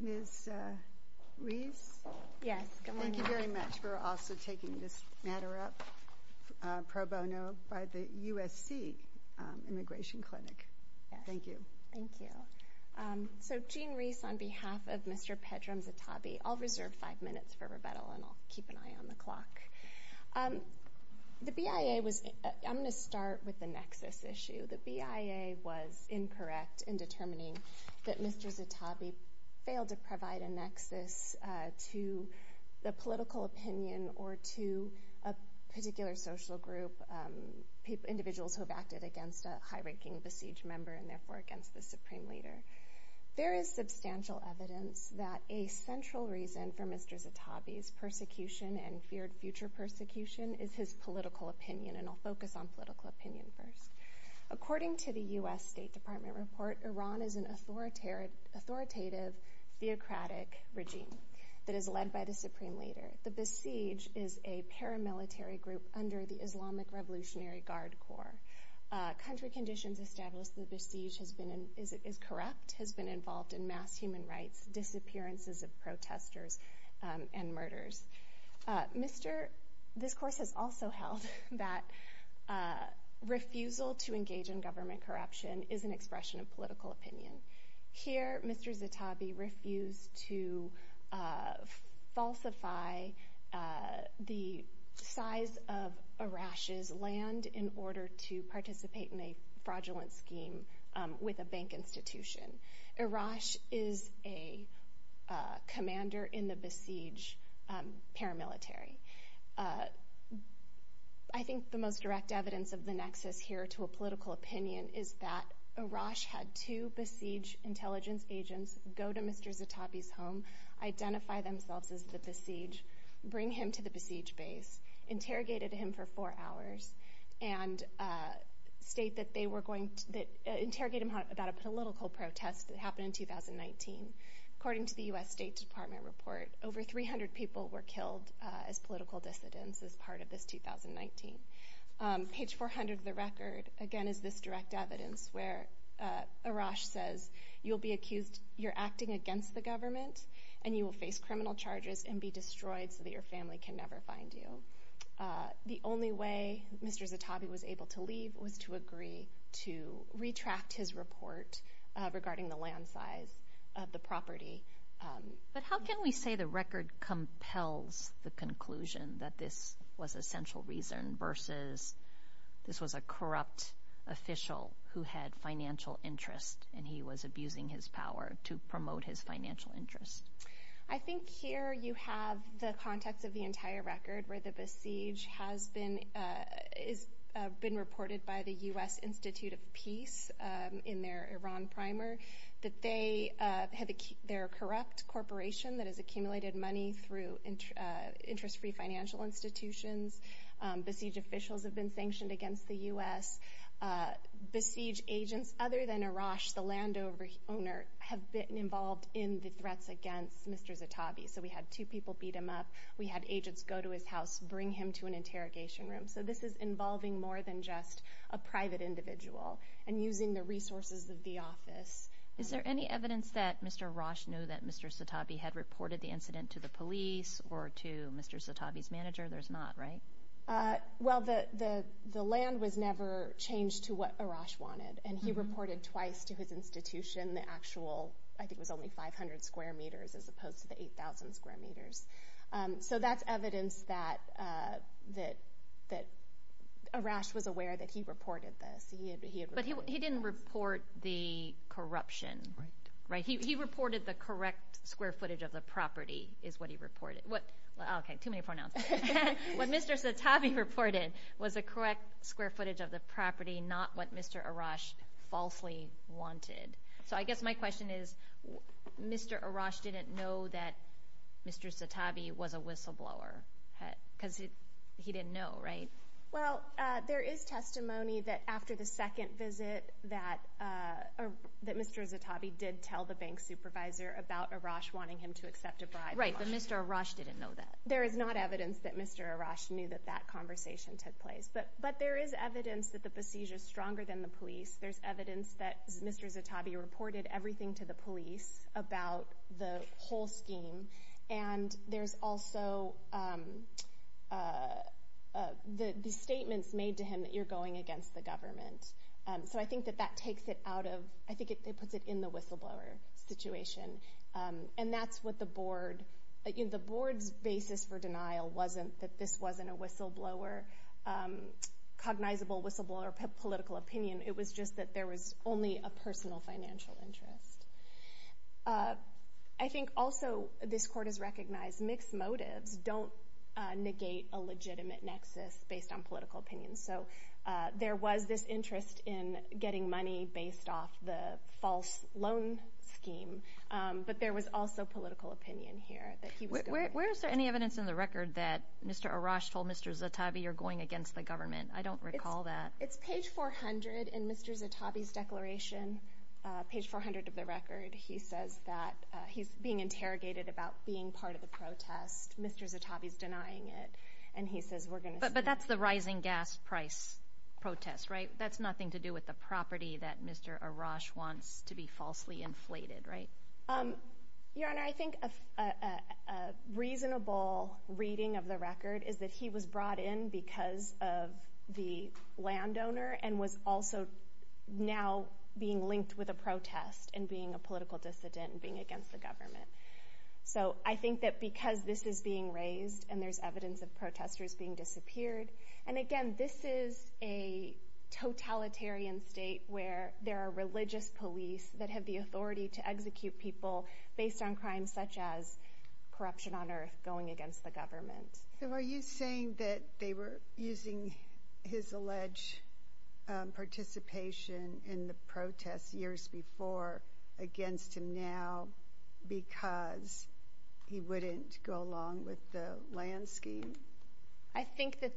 Ms. Reese, thank you very much for also taking this matter up, pro bono, by the USC Immigration Clinic. Thank you. Thank you. So, Jean Reese, on behalf of Mr. Pedram Zehtabi, I'll reserve 5 minutes for rebuttal and I'll keep an eye on the clock. The BIA was, I'm going to start with the nexus issue. The BIA was incorrect in determining that Mr. Zehtabi failed to provide a nexus to the political opinion or to a particular social group, individuals who have acted against a high-ranking besieged member and therefore against the Supreme Leader. There is substantial evidence that a central reason for Mr. Zehtabi's persecution and feared future persecution is his political opinion, and I'll focus on political opinion first. According to the U.S. State Department report, Iran is an authoritative, theocratic regime that is led by the Supreme Leader. The besieged is a paramilitary group under the Islamic Revolutionary Guard Corps. Country conditions established that the besiege is corrupt has been involved in mass human rights, disappearances of protesters, and murders. This course has also held that refusal to engage in government corruption is an expression of political opinion. Here Mr. Zehtabi refused to falsify the size of Arash's land in order to participate in a fraudulent scheme with a bank institution. Arash is a commander in the besieged paramilitary. I think the most direct evidence of the nexus here to a political opinion is that Arash had two besieged intelligence agents go to Mr. Zehtabi's home, identify themselves as the besieged, bring him to the besieged base, interrogated him for four hours, and state that they were going to interrogate him about a political protest that happened in 2019. According to the U.S. State Department report, over 300 people were killed as political dissidents as part of this 2019. Page 400 of the record, again, is this direct evidence where Arash says, you'll be accused you're acting against the government and you will face criminal charges and be destroyed so that your family can never find you. The only way Mr. Zehtabi was able to leave was to agree to retract his report regarding the land size of the property. But how can we say the record compels the conclusion that this was a central reason versus this was a corrupt official who had financial interest and he was abusing his power to promote his financial interest? I think here you have the context of the entire record where the besiege has been reported by the U.S. Institute of Peace in their Iran primer, that they have their corrupt corporation that has accumulated money through interest-free financial institutions. Besieged officials have been sanctioned against the U.S. Besieged agents other than Arash, the landowner, have been involved in the threats against Mr. Zehtabi. So we had two people beat him up. We had agents go to his house, bring him to an interrogation room. So this is involving more than just a private individual and using the resources of the office. Is there any evidence that Mr. Arash knew that Mr. Zehtabi had reported the incident to the police or to Mr. Zehtabi's manager? There's not, right? Well the land was never changed to what Arash wanted and he reported twice to his institution the actual, I think it was only 500 square meters as opposed to the 8,000 square meters. So that's evidence that Arash was aware that he reported this. He didn't report the corruption, right? He reported the correct square footage of the property is what he reported. Okay, too many pronouns. What Mr. Zehtabi reported was a correct square footage of the property, not what Mr. Arash falsely wanted. So I guess my question is, Mr. Arash didn't know that Mr. Zehtabi was a whistleblower because he didn't know, right? Well, there is testimony that after the second visit that Mr. Zehtabi did tell the bank supervisor about Arash wanting him to accept a bribe. Right, but Mr. Arash didn't know that. There is not evidence that Mr. Arash knew that that conversation took place. But there is evidence that the besiege is stronger than the police. There's evidence that Mr. Zehtabi reported everything to the police about the whole scheme. And there's also the statements made to him that you're going against the government. So I think that that takes it out of, I think it puts it in the whistleblower situation. And that's what the board, the board's basis for denial wasn't that this wasn't a whistleblower, cognizable whistleblower political opinion. It was just that there was only a personal financial interest. I think also this court has recognized mixed motives don't negate a legitimate nexus based on political opinion. So there was this interest in getting money based off the false loan scheme. But there was also political opinion here that he was going against the government. Where is there any evidence in the record that Mr. Arash told Mr. Zehtabi you're going against the government? I don't recall that. It's page 400 in Mr. Zehtabi's declaration, page 400 of the record. He says that he's being interrogated about being part of the protest. Mr. Zehtabi's denying it. And he says we're going to- But that's the rising gas price protest, right? That's nothing to do with the property that Mr. Arash wants to be falsely inflated, right? Your Honor, I think a reasonable reading of the record is that he was brought in because of the landowner and was also now being linked with a protest and being a political dissident and being against the government. So I think that because this is being raised and there's evidence of protesters being disappeared, and again, this is a totalitarian state where there are religious police that have the authority to execute people based on crimes such as corruption on earth, going against the government. So are you saying that they were using his alleged participation in the protest years before against him now because he wouldn't go along with the land scheme? I think that,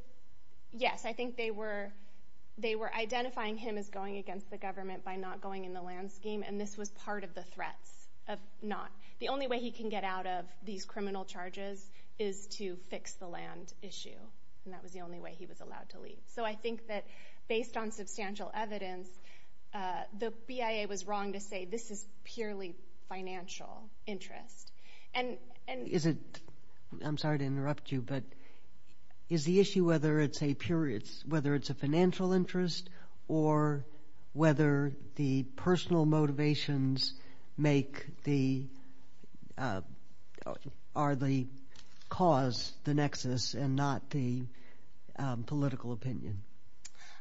yes, I think they were identifying him as going against the government by not going in the land scheme, and this was part of the threats of not. The only way he can get out of these criminal charges is to fix the land issue, and that was the only way he was allowed to leave. So I think that based on substantial evidence, the BIA was wrong to say this is purely financial interest. And- Is it- I'm sorry to interrupt you, but is the issue whether it's a financial interest or whether the personal motivations make the- are the cause the nexus and not the political opinion?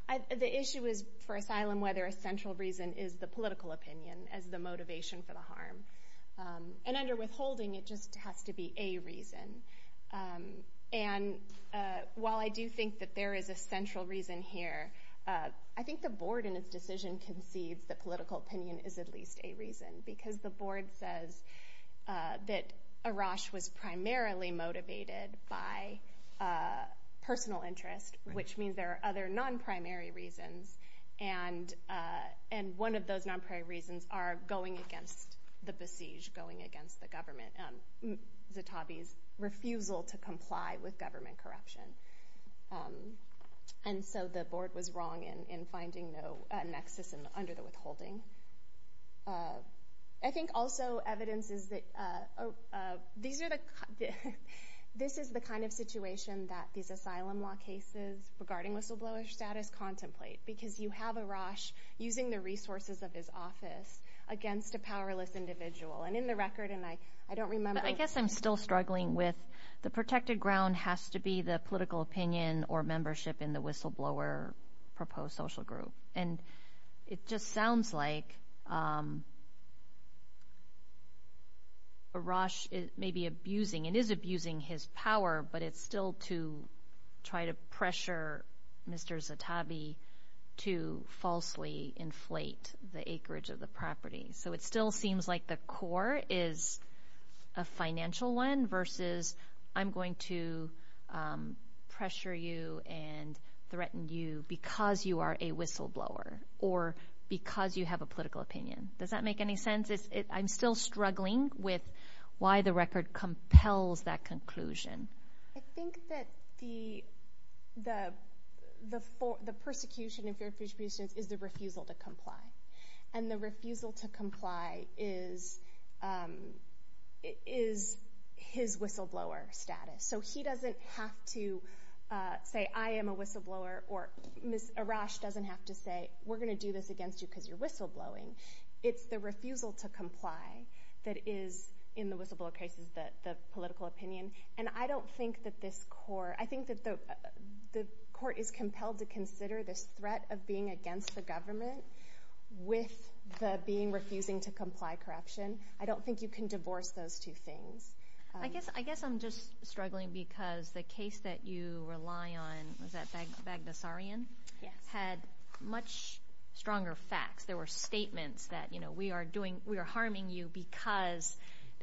The issue is for asylum whether a central reason is the political opinion as the motivation for the harm. And under withholding, it just has to be a reason. And while I do think that there is a central reason here, I think the board in its decision concedes that political opinion is at least a reason because the board says that Arash was primarily motivated by personal interest, which means there are other non-primary reasons, and one of those non-primary reasons are going against the besiege, going against the government. Zatabi's refusal to comply with government corruption. And so the board was wrong in finding no nexus under the withholding. I think also evidence is that these are the- this is the kind of situation that these asylum law cases regarding whistleblower status contemplate because you have Arash using the resources of his office against a powerless individual. And in the record, and I don't remember- I guess I'm still struggling with the protected ground has to be the political opinion or membership in the whistleblower proposed social group. And it just sounds like Arash may be abusing, and is abusing his power, but it's still to try to pressure Mr. Zatabi to falsely inflate the acreage of the property. So it still seems like the core is a financial one versus I'm going to pressure you and threaten you because you are a whistleblower or because you have a political opinion. Does that make any sense? I'm still struggling with why the record compels that conclusion. I think that the persecution of fair distribution is the refusal to comply. And the refusal to comply is his whistleblower status. So he doesn't have to say, I am a whistleblower, or Ms. Arash doesn't have to say, we're going to do this against you because you're whistleblowing. It's the refusal to comply that is in the whistleblower cases that the political opinion. And I don't think that this core, I think that the court is compelled to consider this threat of being against the government with the being refusing to comply corruption. I don't think you can divorce those two things. I guess I'm just struggling because the case that you rely on, was that Bagdasarian? Yes. Had much stronger facts. There were statements that we are doing, we are harming you because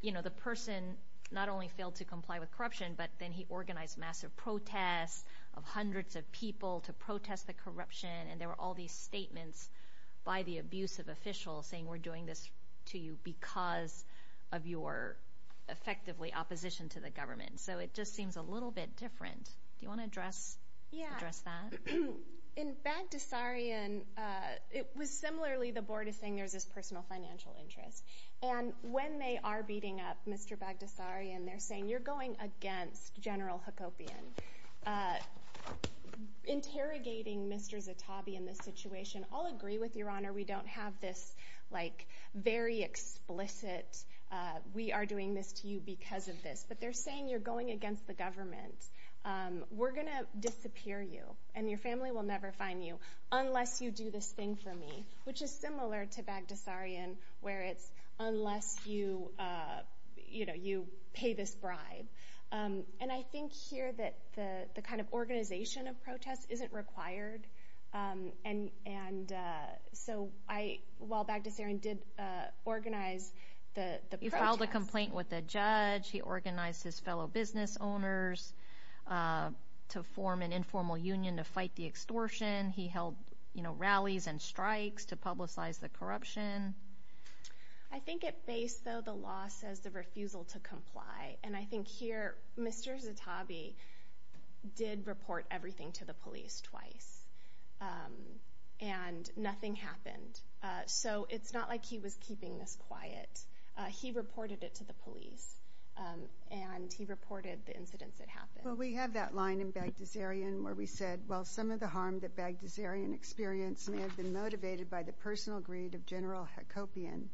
the person not only failed to comply with corruption, but then he organized massive protests of hundreds of people to protest the corruption. And there were all these statements by the abusive officials saying we're doing this to you because of your effectively opposition to the government. So it just seems a little bit different. Do you want to address that? In Bagdasarian, it was similarly the board is saying there's this personal financial interest. And when they are beating up Mr. Bagdasarian, they're saying you're going against General Hakobian. Interrogating Mr. Zatabi in this situation, I'll agree with your honor, we don't have this like very explicit, we are doing this to you because of this. But they're saying you're going against the government. We're going to disappear you and your family will never find you unless you do this thing for me. Which is similar to Bagdasarian, where it's unless you pay this bribe. And I think here that the kind of organization of protests isn't required, and so while Bagdasarian did organize the protests. He filed a complaint with a judge, he organized his fellow business owners to form an informal union to fight the extortion. He held, you know, rallies and strikes to publicize the corruption. I think at base, though, the law says the refusal to comply. And I think here, Mr. Zatabi did report everything to the police twice. And nothing happened. So it's not like he was keeping this quiet. He reported it to the police, and he reported the incidents that happened. Well, we have that line in Bagdasarian where we said, well, some of the harm that Bagdasarian experienced may have been motivated by the personal greed of General Hakobian.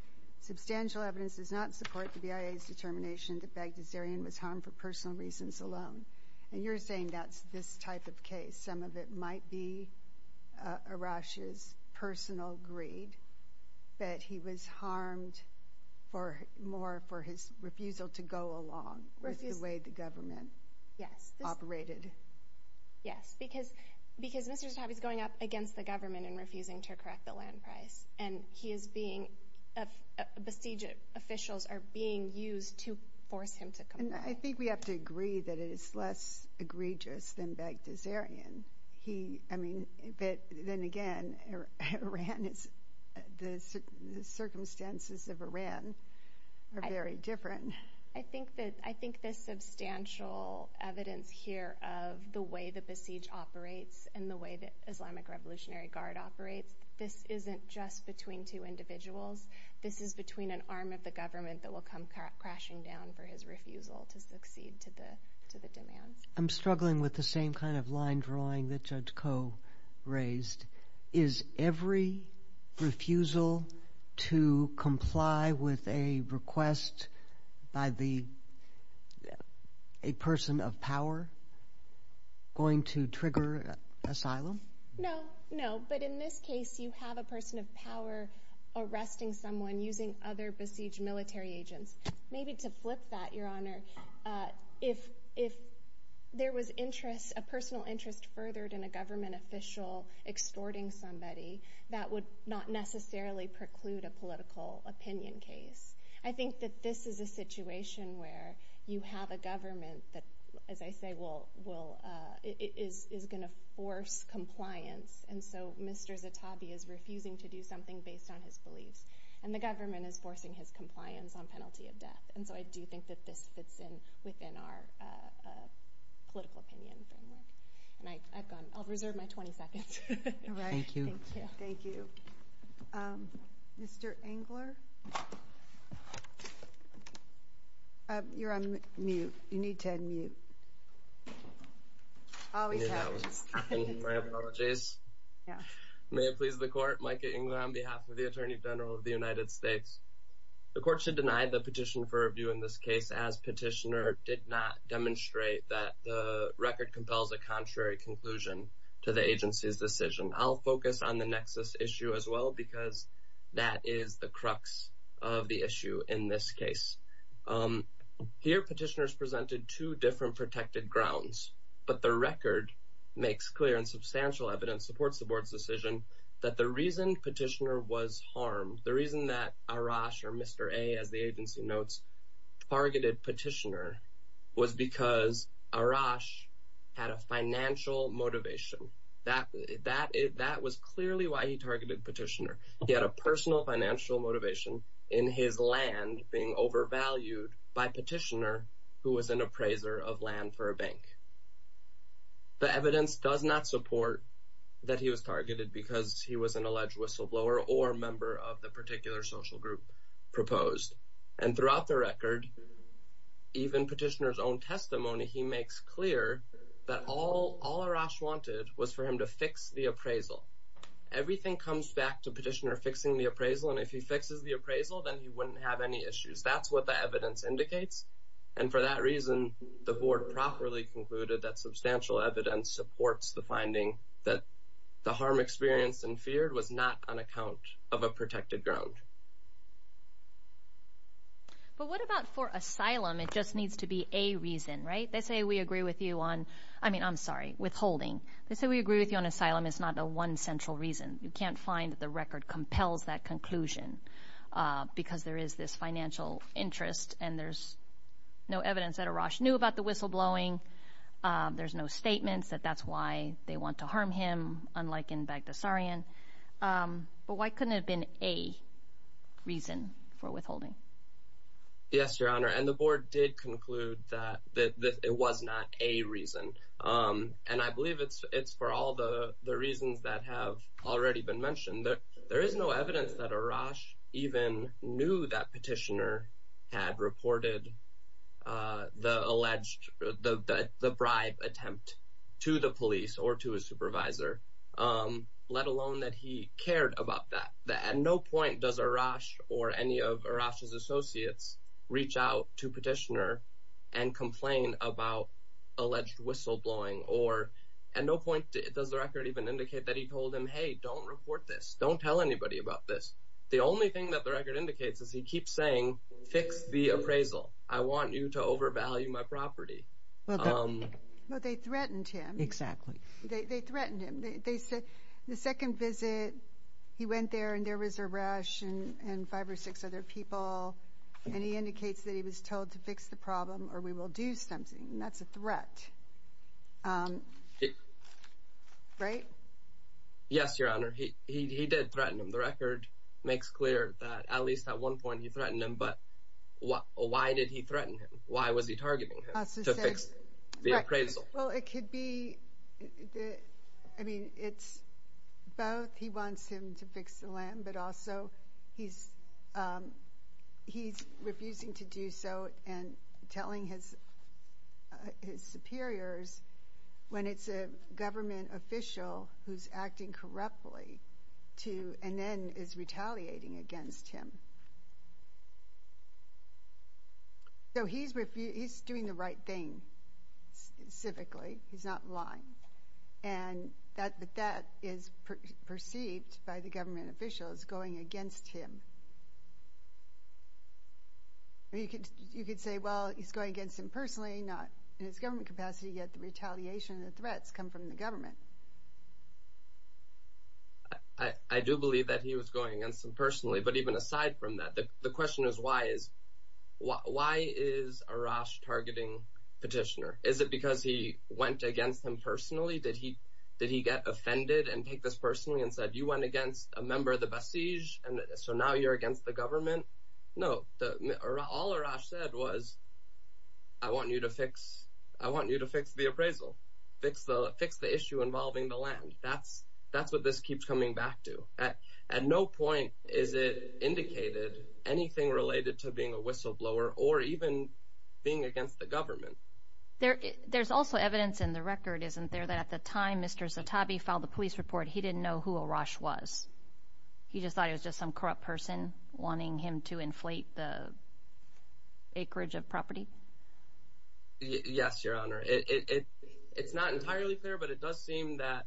Substantial evidence does not support the BIA's determination that Bagdasarian was harmed for personal reasons alone. And you're saying that's this type of case. Some of it might be Arash's personal greed, but he was harmed for more for his refusal to go along with the way the government. Yes. Operated. Yes. Because Mr. Zatabi's going up against the government and refusing to correct the land price. And he is being—besieged officials are being used to force him to comply. And I think we have to agree that it is less egregious than Bagdasarian. He—I mean, but then again, Iran is—the circumstances of Iran are very different. I think that—I think there's substantial evidence here of the way the besiege operates and the way the Islamic Revolutionary Guard operates. This isn't just between two individuals. This is between an arm of the government that will come crashing down for his refusal to succeed to the demands. I'm struggling with the same kind of line drawing that Judge Koh raised. Is every refusal to comply with a request by the—a person of power going to trigger asylum? No. No. But in this case, you have a person of power arresting someone using other besieged military agents. Maybe to flip that, Your Honor, if—if there was interest, a personal interest furthered in a government official extorting somebody, that would not necessarily preclude a political opinion case. I think that this is a situation where you have a government that, as I say, will—will—is going to force compliance. And so Mr. Zatabi is refusing to do something based on his beliefs. And the government is forcing his compliance on penalty of death. And so I do think that this fits in within our political opinion framework. And I've gone—I'll reserve my 20 seconds. All right. Thank you. Thank you. Thank you. Mr. Engler? You're on mute. You need to unmute. I always have. I knew that was coming. My apologies. Yeah. May it please the Court, Micah Engler on behalf of the Attorney General of the United States. The Court should deny the petition for review in this case as petitioner did not demonstrate that the record compels a contrary conclusion to the agency's decision. I'll focus on the nexus issue as well because that is the crux of the issue in this case. Here petitioners presented two different protected grounds, but the record makes clear and substantial evidence supports the Board's decision that the reason petitioner was harmed, the reason that Arash—or Mr. A, as the agency notes—targeted petitioner was because Arash had a financial motivation. That was clearly why he targeted petitioner. He had a personal financial motivation in his land being overvalued by petitioner who was an appraiser of land for a bank. The evidence does not support that he was targeted because he was an alleged whistleblower or member of the particular social group proposed. And throughout the record, even petitioner's own testimony, he makes clear that all Arash wanted was for him to fix the appraisal. Everything comes back to petitioner fixing the appraisal, and if he fixes the appraisal, then he wouldn't have any issues. That's what the evidence indicates, and for that reason, the Board properly concluded that substantial evidence supports the finding that the harm experienced and feared was not on account of a protected ground. But what about for asylum? It just needs to be a reason, right? They say we agree with you on—I mean, I'm sorry—withholding. They say we agree with you on asylum. It's not a one central reason. You can't find the record compels that conclusion because there is this financial interest, and there's no evidence that Arash knew about the whistleblowing. There's no statements that that's why they want to harm him, unlike in Bagdasarian. But why couldn't it have been a reason for withholding? Yes, Your Honor, and the Board did conclude that it was not a reason, and I believe it's for all the reasons that have already been mentioned. There is no evidence that Arash even knew that Petitioner had reported the alleged—the bribe attempt to the police or to his supervisor, let alone that he cared about that. At no point does Arash or any of Arash's associates reach out to Petitioner and complain about alleged whistleblowing, or at no point does the record even indicate that he told them, hey, don't report this. Don't tell anybody about this. The only thing that the record indicates is he keeps saying, fix the appraisal. I want you to overvalue my property. Well, they threatened him. Exactly. They threatened him. They said the second visit, he went there, and there was Arash and five or six other people, and he indicates that he was told to fix the problem or we will do something, and that's a threat. Right? Yes, Your Honor, he did threaten him. The record makes clear that at least at one point he threatened him, but why did he threaten him? Why was he targeting him? To fix the appraisal. Well, it could be—I mean, it's both he wants him to fix the land, but also he's refusing to do so and telling his superiors when it's a government official who's acting correctly to—and then is retaliating against him, so he's doing the right thing civically. He's not lying, and that—but that is perceived by the government officials going against him. I mean, you could say, well, he's going against him personally, not in his government capacity, yet the retaliation and the threats come from the government. I do believe that he was going against him personally, but even aside from that, the question is why is—why is Arash targeting Petitioner? Is it because he went against him personally? Did he get offended and take this personally and said, you went against a member of the government, so now you're against the government? No. All Arash said was, I want you to fix—I want you to fix the appraisal, fix the issue involving the land. That's what this keeps coming back to. At no point is it indicated anything related to being a whistleblower or even being against the government. There's also evidence in the record, isn't there, that at the time Mr. Zatabi filed the police report, he didn't know who Arash was. He just thought he was just some corrupt person wanting him to inflate the acreage of property? Yes, Your Honor, it's not entirely clear, but it does seem that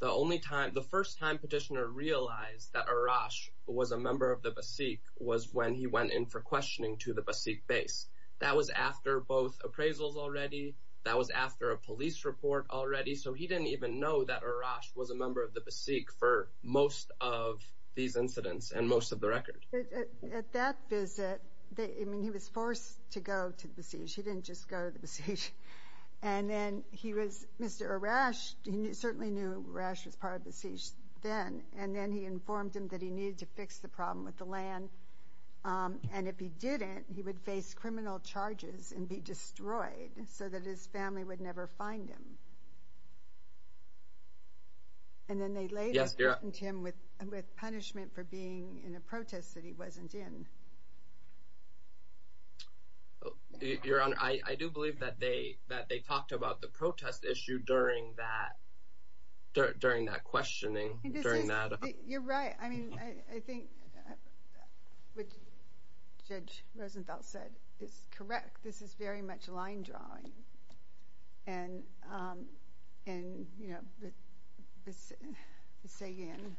the only time—the first time Petitioner realized that Arash was a member of the Basiq was when he went in for questioning to the Basiq base. That was after both appraisals already. That was after a police report already, so he didn't even know that Arash was a member of the Basiq for most of these incidents and most of the record. At that visit, I mean, he was forced to go to the Basiq. He didn't just go to the Basiq. And then he was—Mr. Arash, he certainly knew Arash was part of the Basiq then, and then he informed him that he needed to fix the problem with the land, and if he didn't, he would face criminal charges and be destroyed so that his family would never find him. And then they later threatened him with punishment for being in a protest that he wasn't in. Your Honor, I do believe that they talked about the protest issue during that questioning. You're right. I mean, I think what Judge Rosenthal said is correct. This is very much line drawing, and, you know, the Sagan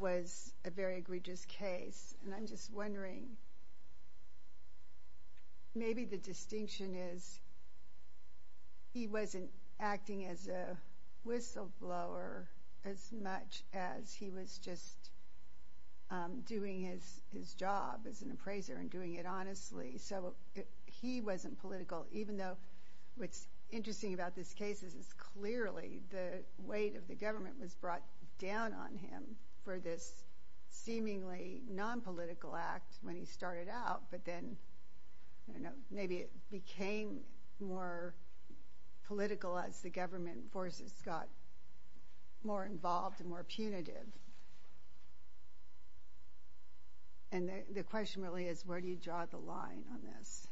was a very egregious case. And I'm just wondering, maybe the distinction is he wasn't acting as a whistleblower as much as he was just doing his job as an appraiser and doing it honestly. So he wasn't political, even though what's interesting about this case is it's clearly the weight of the government was brought down on him for this seemingly nonpolitical act when he started out, but then, I don't know, maybe it became more political as the government forces got more involved and more punitive. And the question really is, where do you draw the line on this?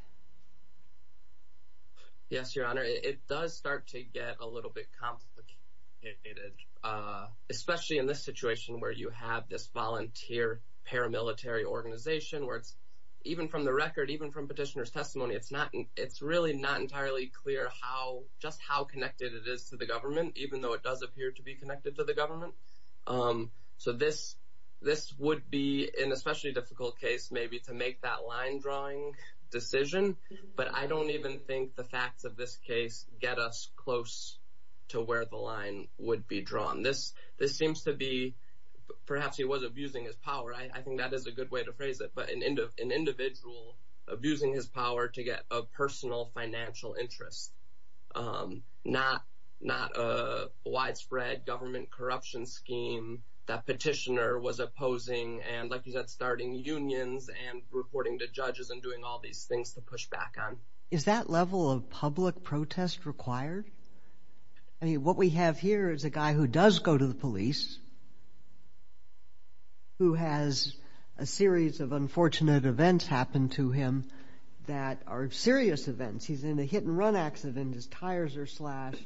Yes, Your Honor, it does start to get a little bit complicated, especially in this situation where you have this volunteer paramilitary organization where it's, even from the record, even from petitioner's testimony, it's really not entirely clear just how connected it is to the government, even though it does appear to be connected to the government. So this would be an especially difficult case maybe to make that line drawing decision, but I don't even think the facts of this case get us close to where the line would be drawn. This seems to be, perhaps he was abusing his power. I think that is a good way to phrase it, but an individual abusing his power to get a personal and financial interest, not a widespread government corruption scheme that petitioner was opposing and, like you said, starting unions and reporting to judges and doing all these things to push back on. Is that level of public protest required? I mean, what we have here is a guy who does go to the police, who has a series of unfortunate events happen to him that are serious events. He's in a hit-and-run accident. His tires are slashed.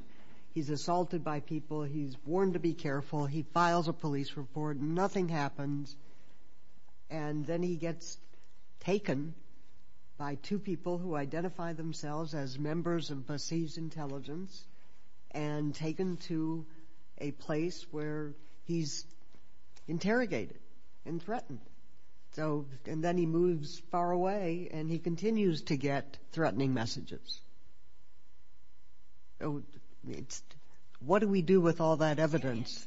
He's assaulted by people. He's warned to be careful. He files a police report. Nothing happens. And then he gets taken by two people who identify themselves as members of Basij's intelligence and taken to a place where he's interrogated and threatened. And then he moves far away and he continues to get threatening messages. What do we do with all that evidence?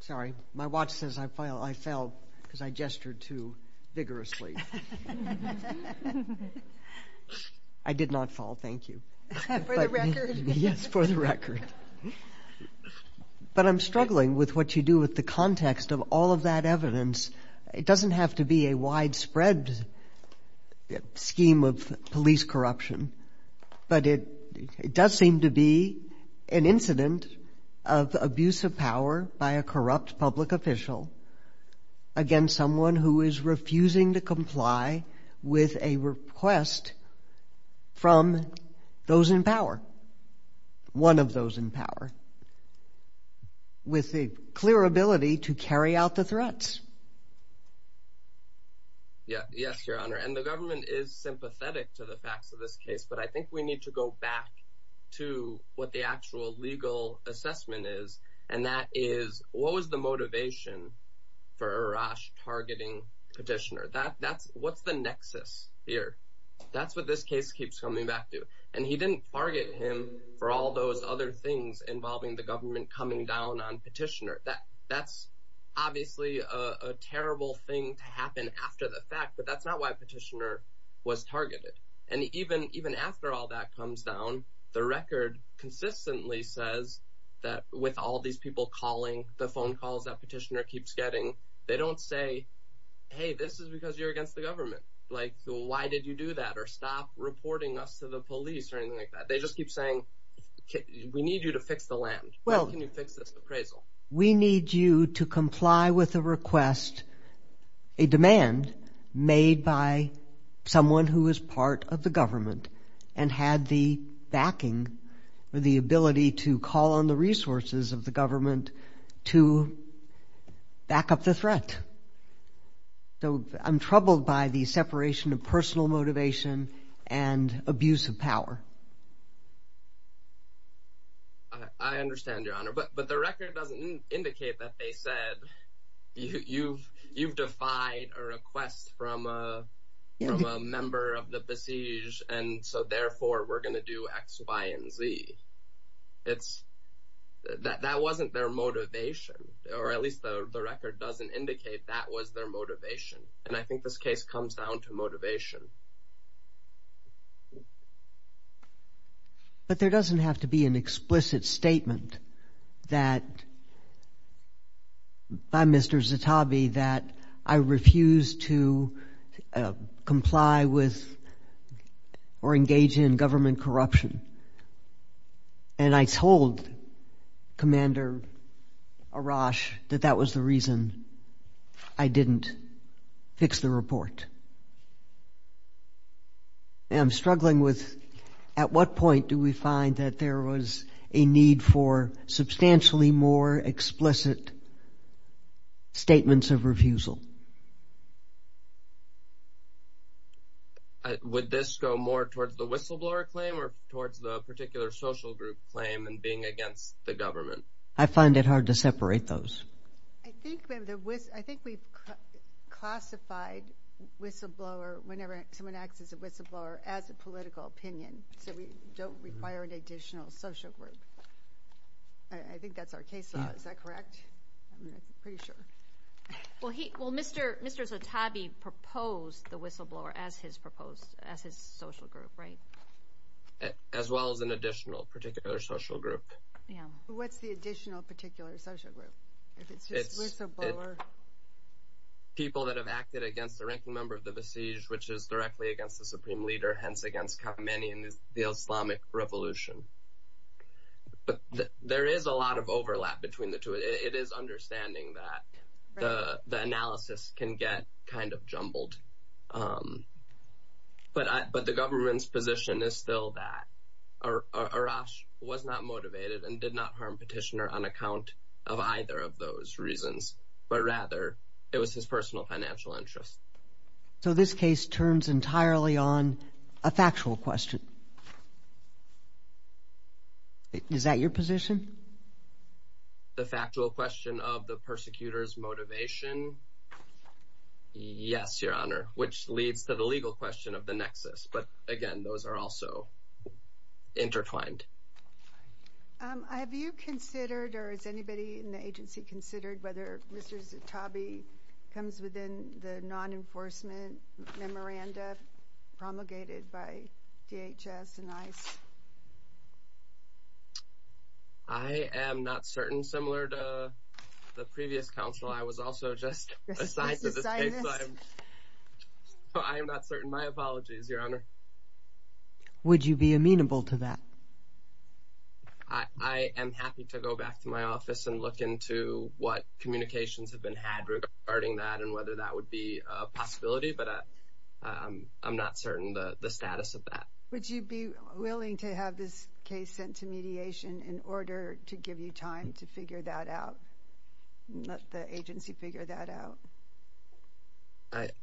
Sorry, my watch says I fell because I gestured too vigorously. I did not fall, thank you. Yes, for the record. But I'm struggling with what you do with the context of all of that evidence. It doesn't have to be a widespread scheme of police corruption, but it does seem to be an incident of abuse of power by a corrupt public official against someone who is refusing to comply with a request from those in power, one of those in power, with the clear ability to carry out the threats. Yes, Your Honor, and the government is sympathetic to the facts of this case, but I think we need to go back to what the actual legal assessment is, and that is what was the motivation for that. What's the nexus here? That's what this case keeps coming back to. And he didn't target him for all those other things involving the government coming down on Petitioner. That's obviously a terrible thing to happen after the fact, but that's not why Petitioner was targeted. And even after all that comes down, the record consistently says that with all these people calling, the phone calls that Petitioner keeps getting, they don't say, hey, this is because you're against the government. Why did you do that? Or stop reporting us to the police or anything like that. They just keep saying, we need you to fix the land. How can you fix this appraisal? We need you to comply with a request, a demand, made by someone who is part of the government and had the backing or the ability to call on the resources of the government to back up the threat. So I'm troubled by the separation of personal motivation and abuse of power. I understand, Your Honor, but the record doesn't indicate that they said you've defied a request from a member of the Besiege, and so therefore, we're going to do X, Y, and Z. That wasn't their motivation, or at least the record doesn't indicate that was their motivation. And I think this case comes down to motivation. But there doesn't have to be an explicit statement that, by Mr. Zatabi, that I refused to comply with or engage in government corruption. And I told Commander Arash that that was the reason I didn't fix the report. And I'm struggling with, at what point do we find that there was a need for substantially more explicit statements of refusal? Would this go more towards the whistleblower claim or towards the particular social group claim and being against the government? I find it hard to separate those. I think we've classified whistleblower whenever someone acts as a whistleblower as a political opinion. So we don't require an additional social group. I think that's our case law. Is that correct? I'm pretty sure. Well, Mr. Zatabi proposed the whistleblower as his social group, right? As well as an additional particular social group. Yeah. What's the additional particular social group, if it's just whistleblower? People that have acted against the ranking member of the Viziege, which is directly against the Supreme Leader, hence against Khomeini and the Islamic Revolution. But there is a lot of overlap between the two. It is understanding that the analysis can get kind of jumbled. But the government's position is still that Arash was not motivated and did not harm Petitioner on account of either of those reasons, but rather it was his personal financial interest. So this case turns entirely on a factual question. Is that your position? The factual question of the persecutor's motivation, yes, Your Honor, which leads to the legal question of the nexus. But, again, those are also intertwined. Have you considered, or has anybody in the agency considered, whether Mr. Zatabi comes within the non-enforcement memoranda promulgated by DHS and ICE? I am not certain. Similar to the previous counsel, I was also just assigned to this case. So I am not certain. My apologies, Your Honor. Would you be amenable to that? I am happy to go back to my office and look into what communications have been had regarding that and whether that would be a possibility, but I'm not certain the status of that. Would you be willing to have this case sent to mediation in order to give you time to figure that out and let the agency figure that out?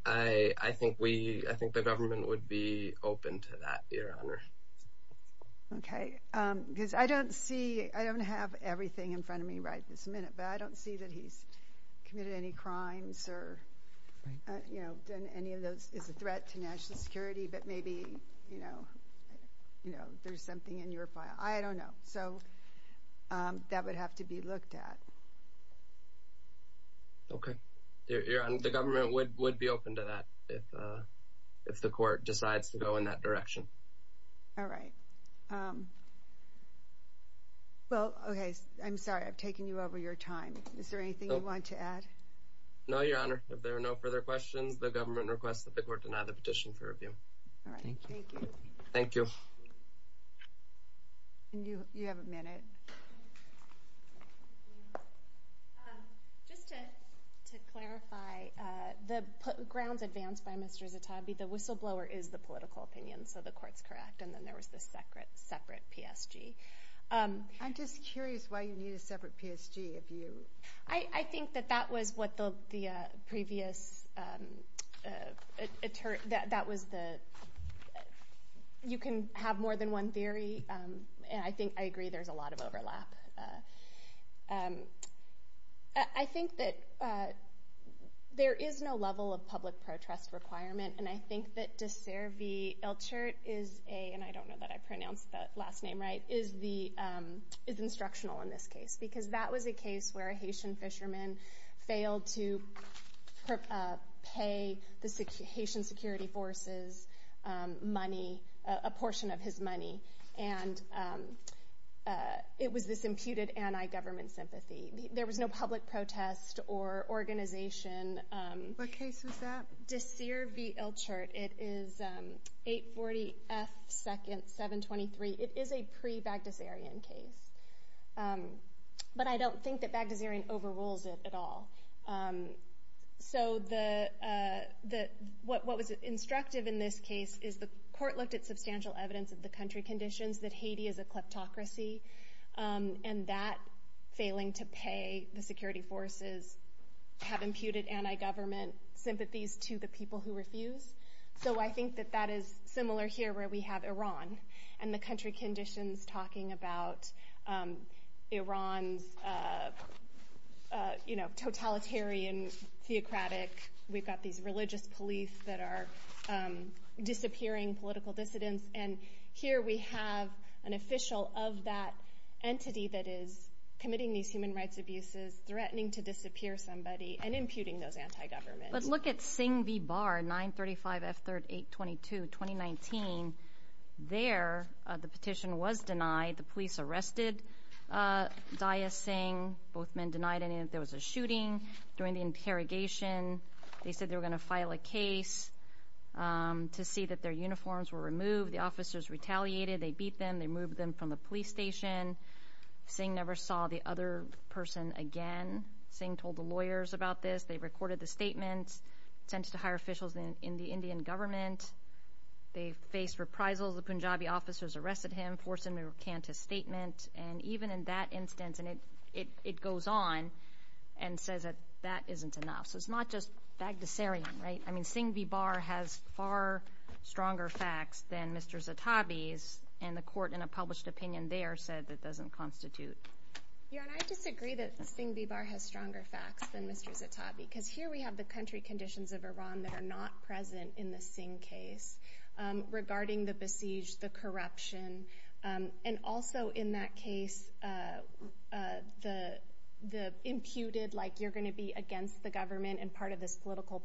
I think the government would be open to that, Your Honor. Okay. Because I don't see – I don't have everything in front of me right this minute, but I don't see that he's committed any crimes or, you know, is a threat to national security, but maybe, you know, there's something in your file. I don't know. So that would have to be looked at. Okay. The government would be open to that if the court decides to go in that direction. All right. Well, okay. I'm sorry. I've taken you over your time. Is there anything you want to add? No, Your Honor. If there are no further questions, the government requests that the court deny the petition for review. All right. Thank you. Thank you. You have a minute. Just to clarify, the grounds advanced by Mr. Zatabi, the whistleblower is the political opinion, so the court's correct, and then there was the separate PSG. I'm just curious why you need a separate PSG. I think that that was what the previous – that was the – you can have more than one theory, and I think – I agree there's a lot of overlap. I think that there is no level of public pro-trust requirement, and I think that de Servi-Eltscher is a – and I don't know that I pronounced that last name right – is instructional in this case because that was a case where a Haitian fisherman failed to pay the Haitian security forces money, a portion of his money, and it was this imputed anti-government sympathy. There was no public protest or organization. What case was that? De Servi-Eltscher. It is 840 F. 2nd, 723. It is a pre-Bagdasarian case, but I don't think that Bagdasarian overrules it at all. What was instructive in this case is the court looked at substantial evidence of the country conditions that Haiti is a kleptocracy, and that failing to pay the security forces have imputed anti-government sympathies to the people who refuse, so I think that that is similar here where we have Iran, and the country conditions talking about Iran's totalitarian, theocratic – we've got these religious police that are disappearing political dissidents, and here we have an official of that entity that is committing these human rights abuses, threatening to disappear somebody, and imputing those anti-governments. But look at Singh v. Barr, 935 F. 3rd, 822, 2019. There the petition was denied. The police arrested Daya Singh. Both men denied it. There was a shooting during the interrogation. They said they were going to file a case to see that their uniforms were removed. The officers retaliated. They beat them. They moved them from the police station. Singh never saw the other person again. Singh told the lawyers about this. They recorded the statement, sent it to higher officials in the Indian government. They faced reprisals. The Punjabi officers arrested him, forced him to recant his statement, and even in that instance it goes on and says that that isn't enough. So it's not just Bagdasarian, right? I mean Singh v. Barr has far stronger facts than Mr. Zatabi's, and the court in a published opinion there said it doesn't constitute. Your Honor, I disagree that Singh v. Barr has stronger facts than Mr. Zatabi because here we have the country conditions of Iran that are not present in the Singh case regarding the besiege, the corruption, and also in that case the imputed like you're going to be against the government and part of this political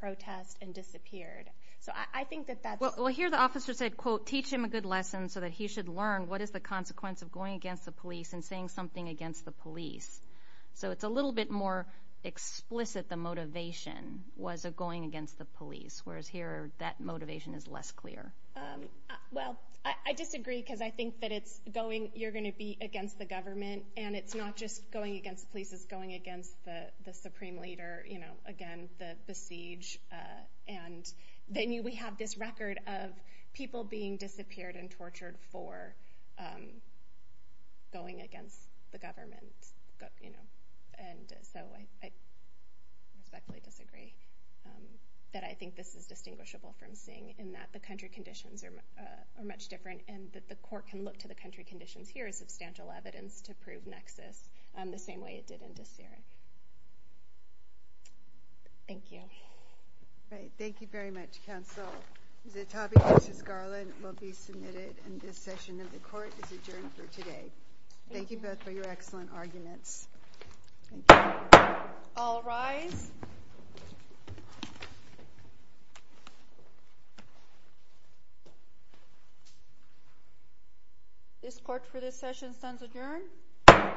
protest and disappeared. So I think that that's... Well, here the officer said, quote, and saying something against the police. So it's a little bit more explicit the motivation was a going against the police, whereas here that motivation is less clear. Well, I disagree because I think that it's going... You're going to be against the government, and it's not just going against the police. It's going against the supreme leader, again, the besiege. Then we have this record of people being disappeared and tortured for going against the government. So I respectfully disagree that I think this is distinguishable from Singh in that the country conditions are much different and that the court can look to the country conditions here as substantial evidence to prove nexus the same way it did in De Sere. Thank you. All right. Thank you very much, counsel. The topic, Mrs. Garland, will be submitted in this session of the court. It's adjourned for today. Thank you both for your excellent arguments. Thank you. All rise. This court for this session stands adjourned. Thank you.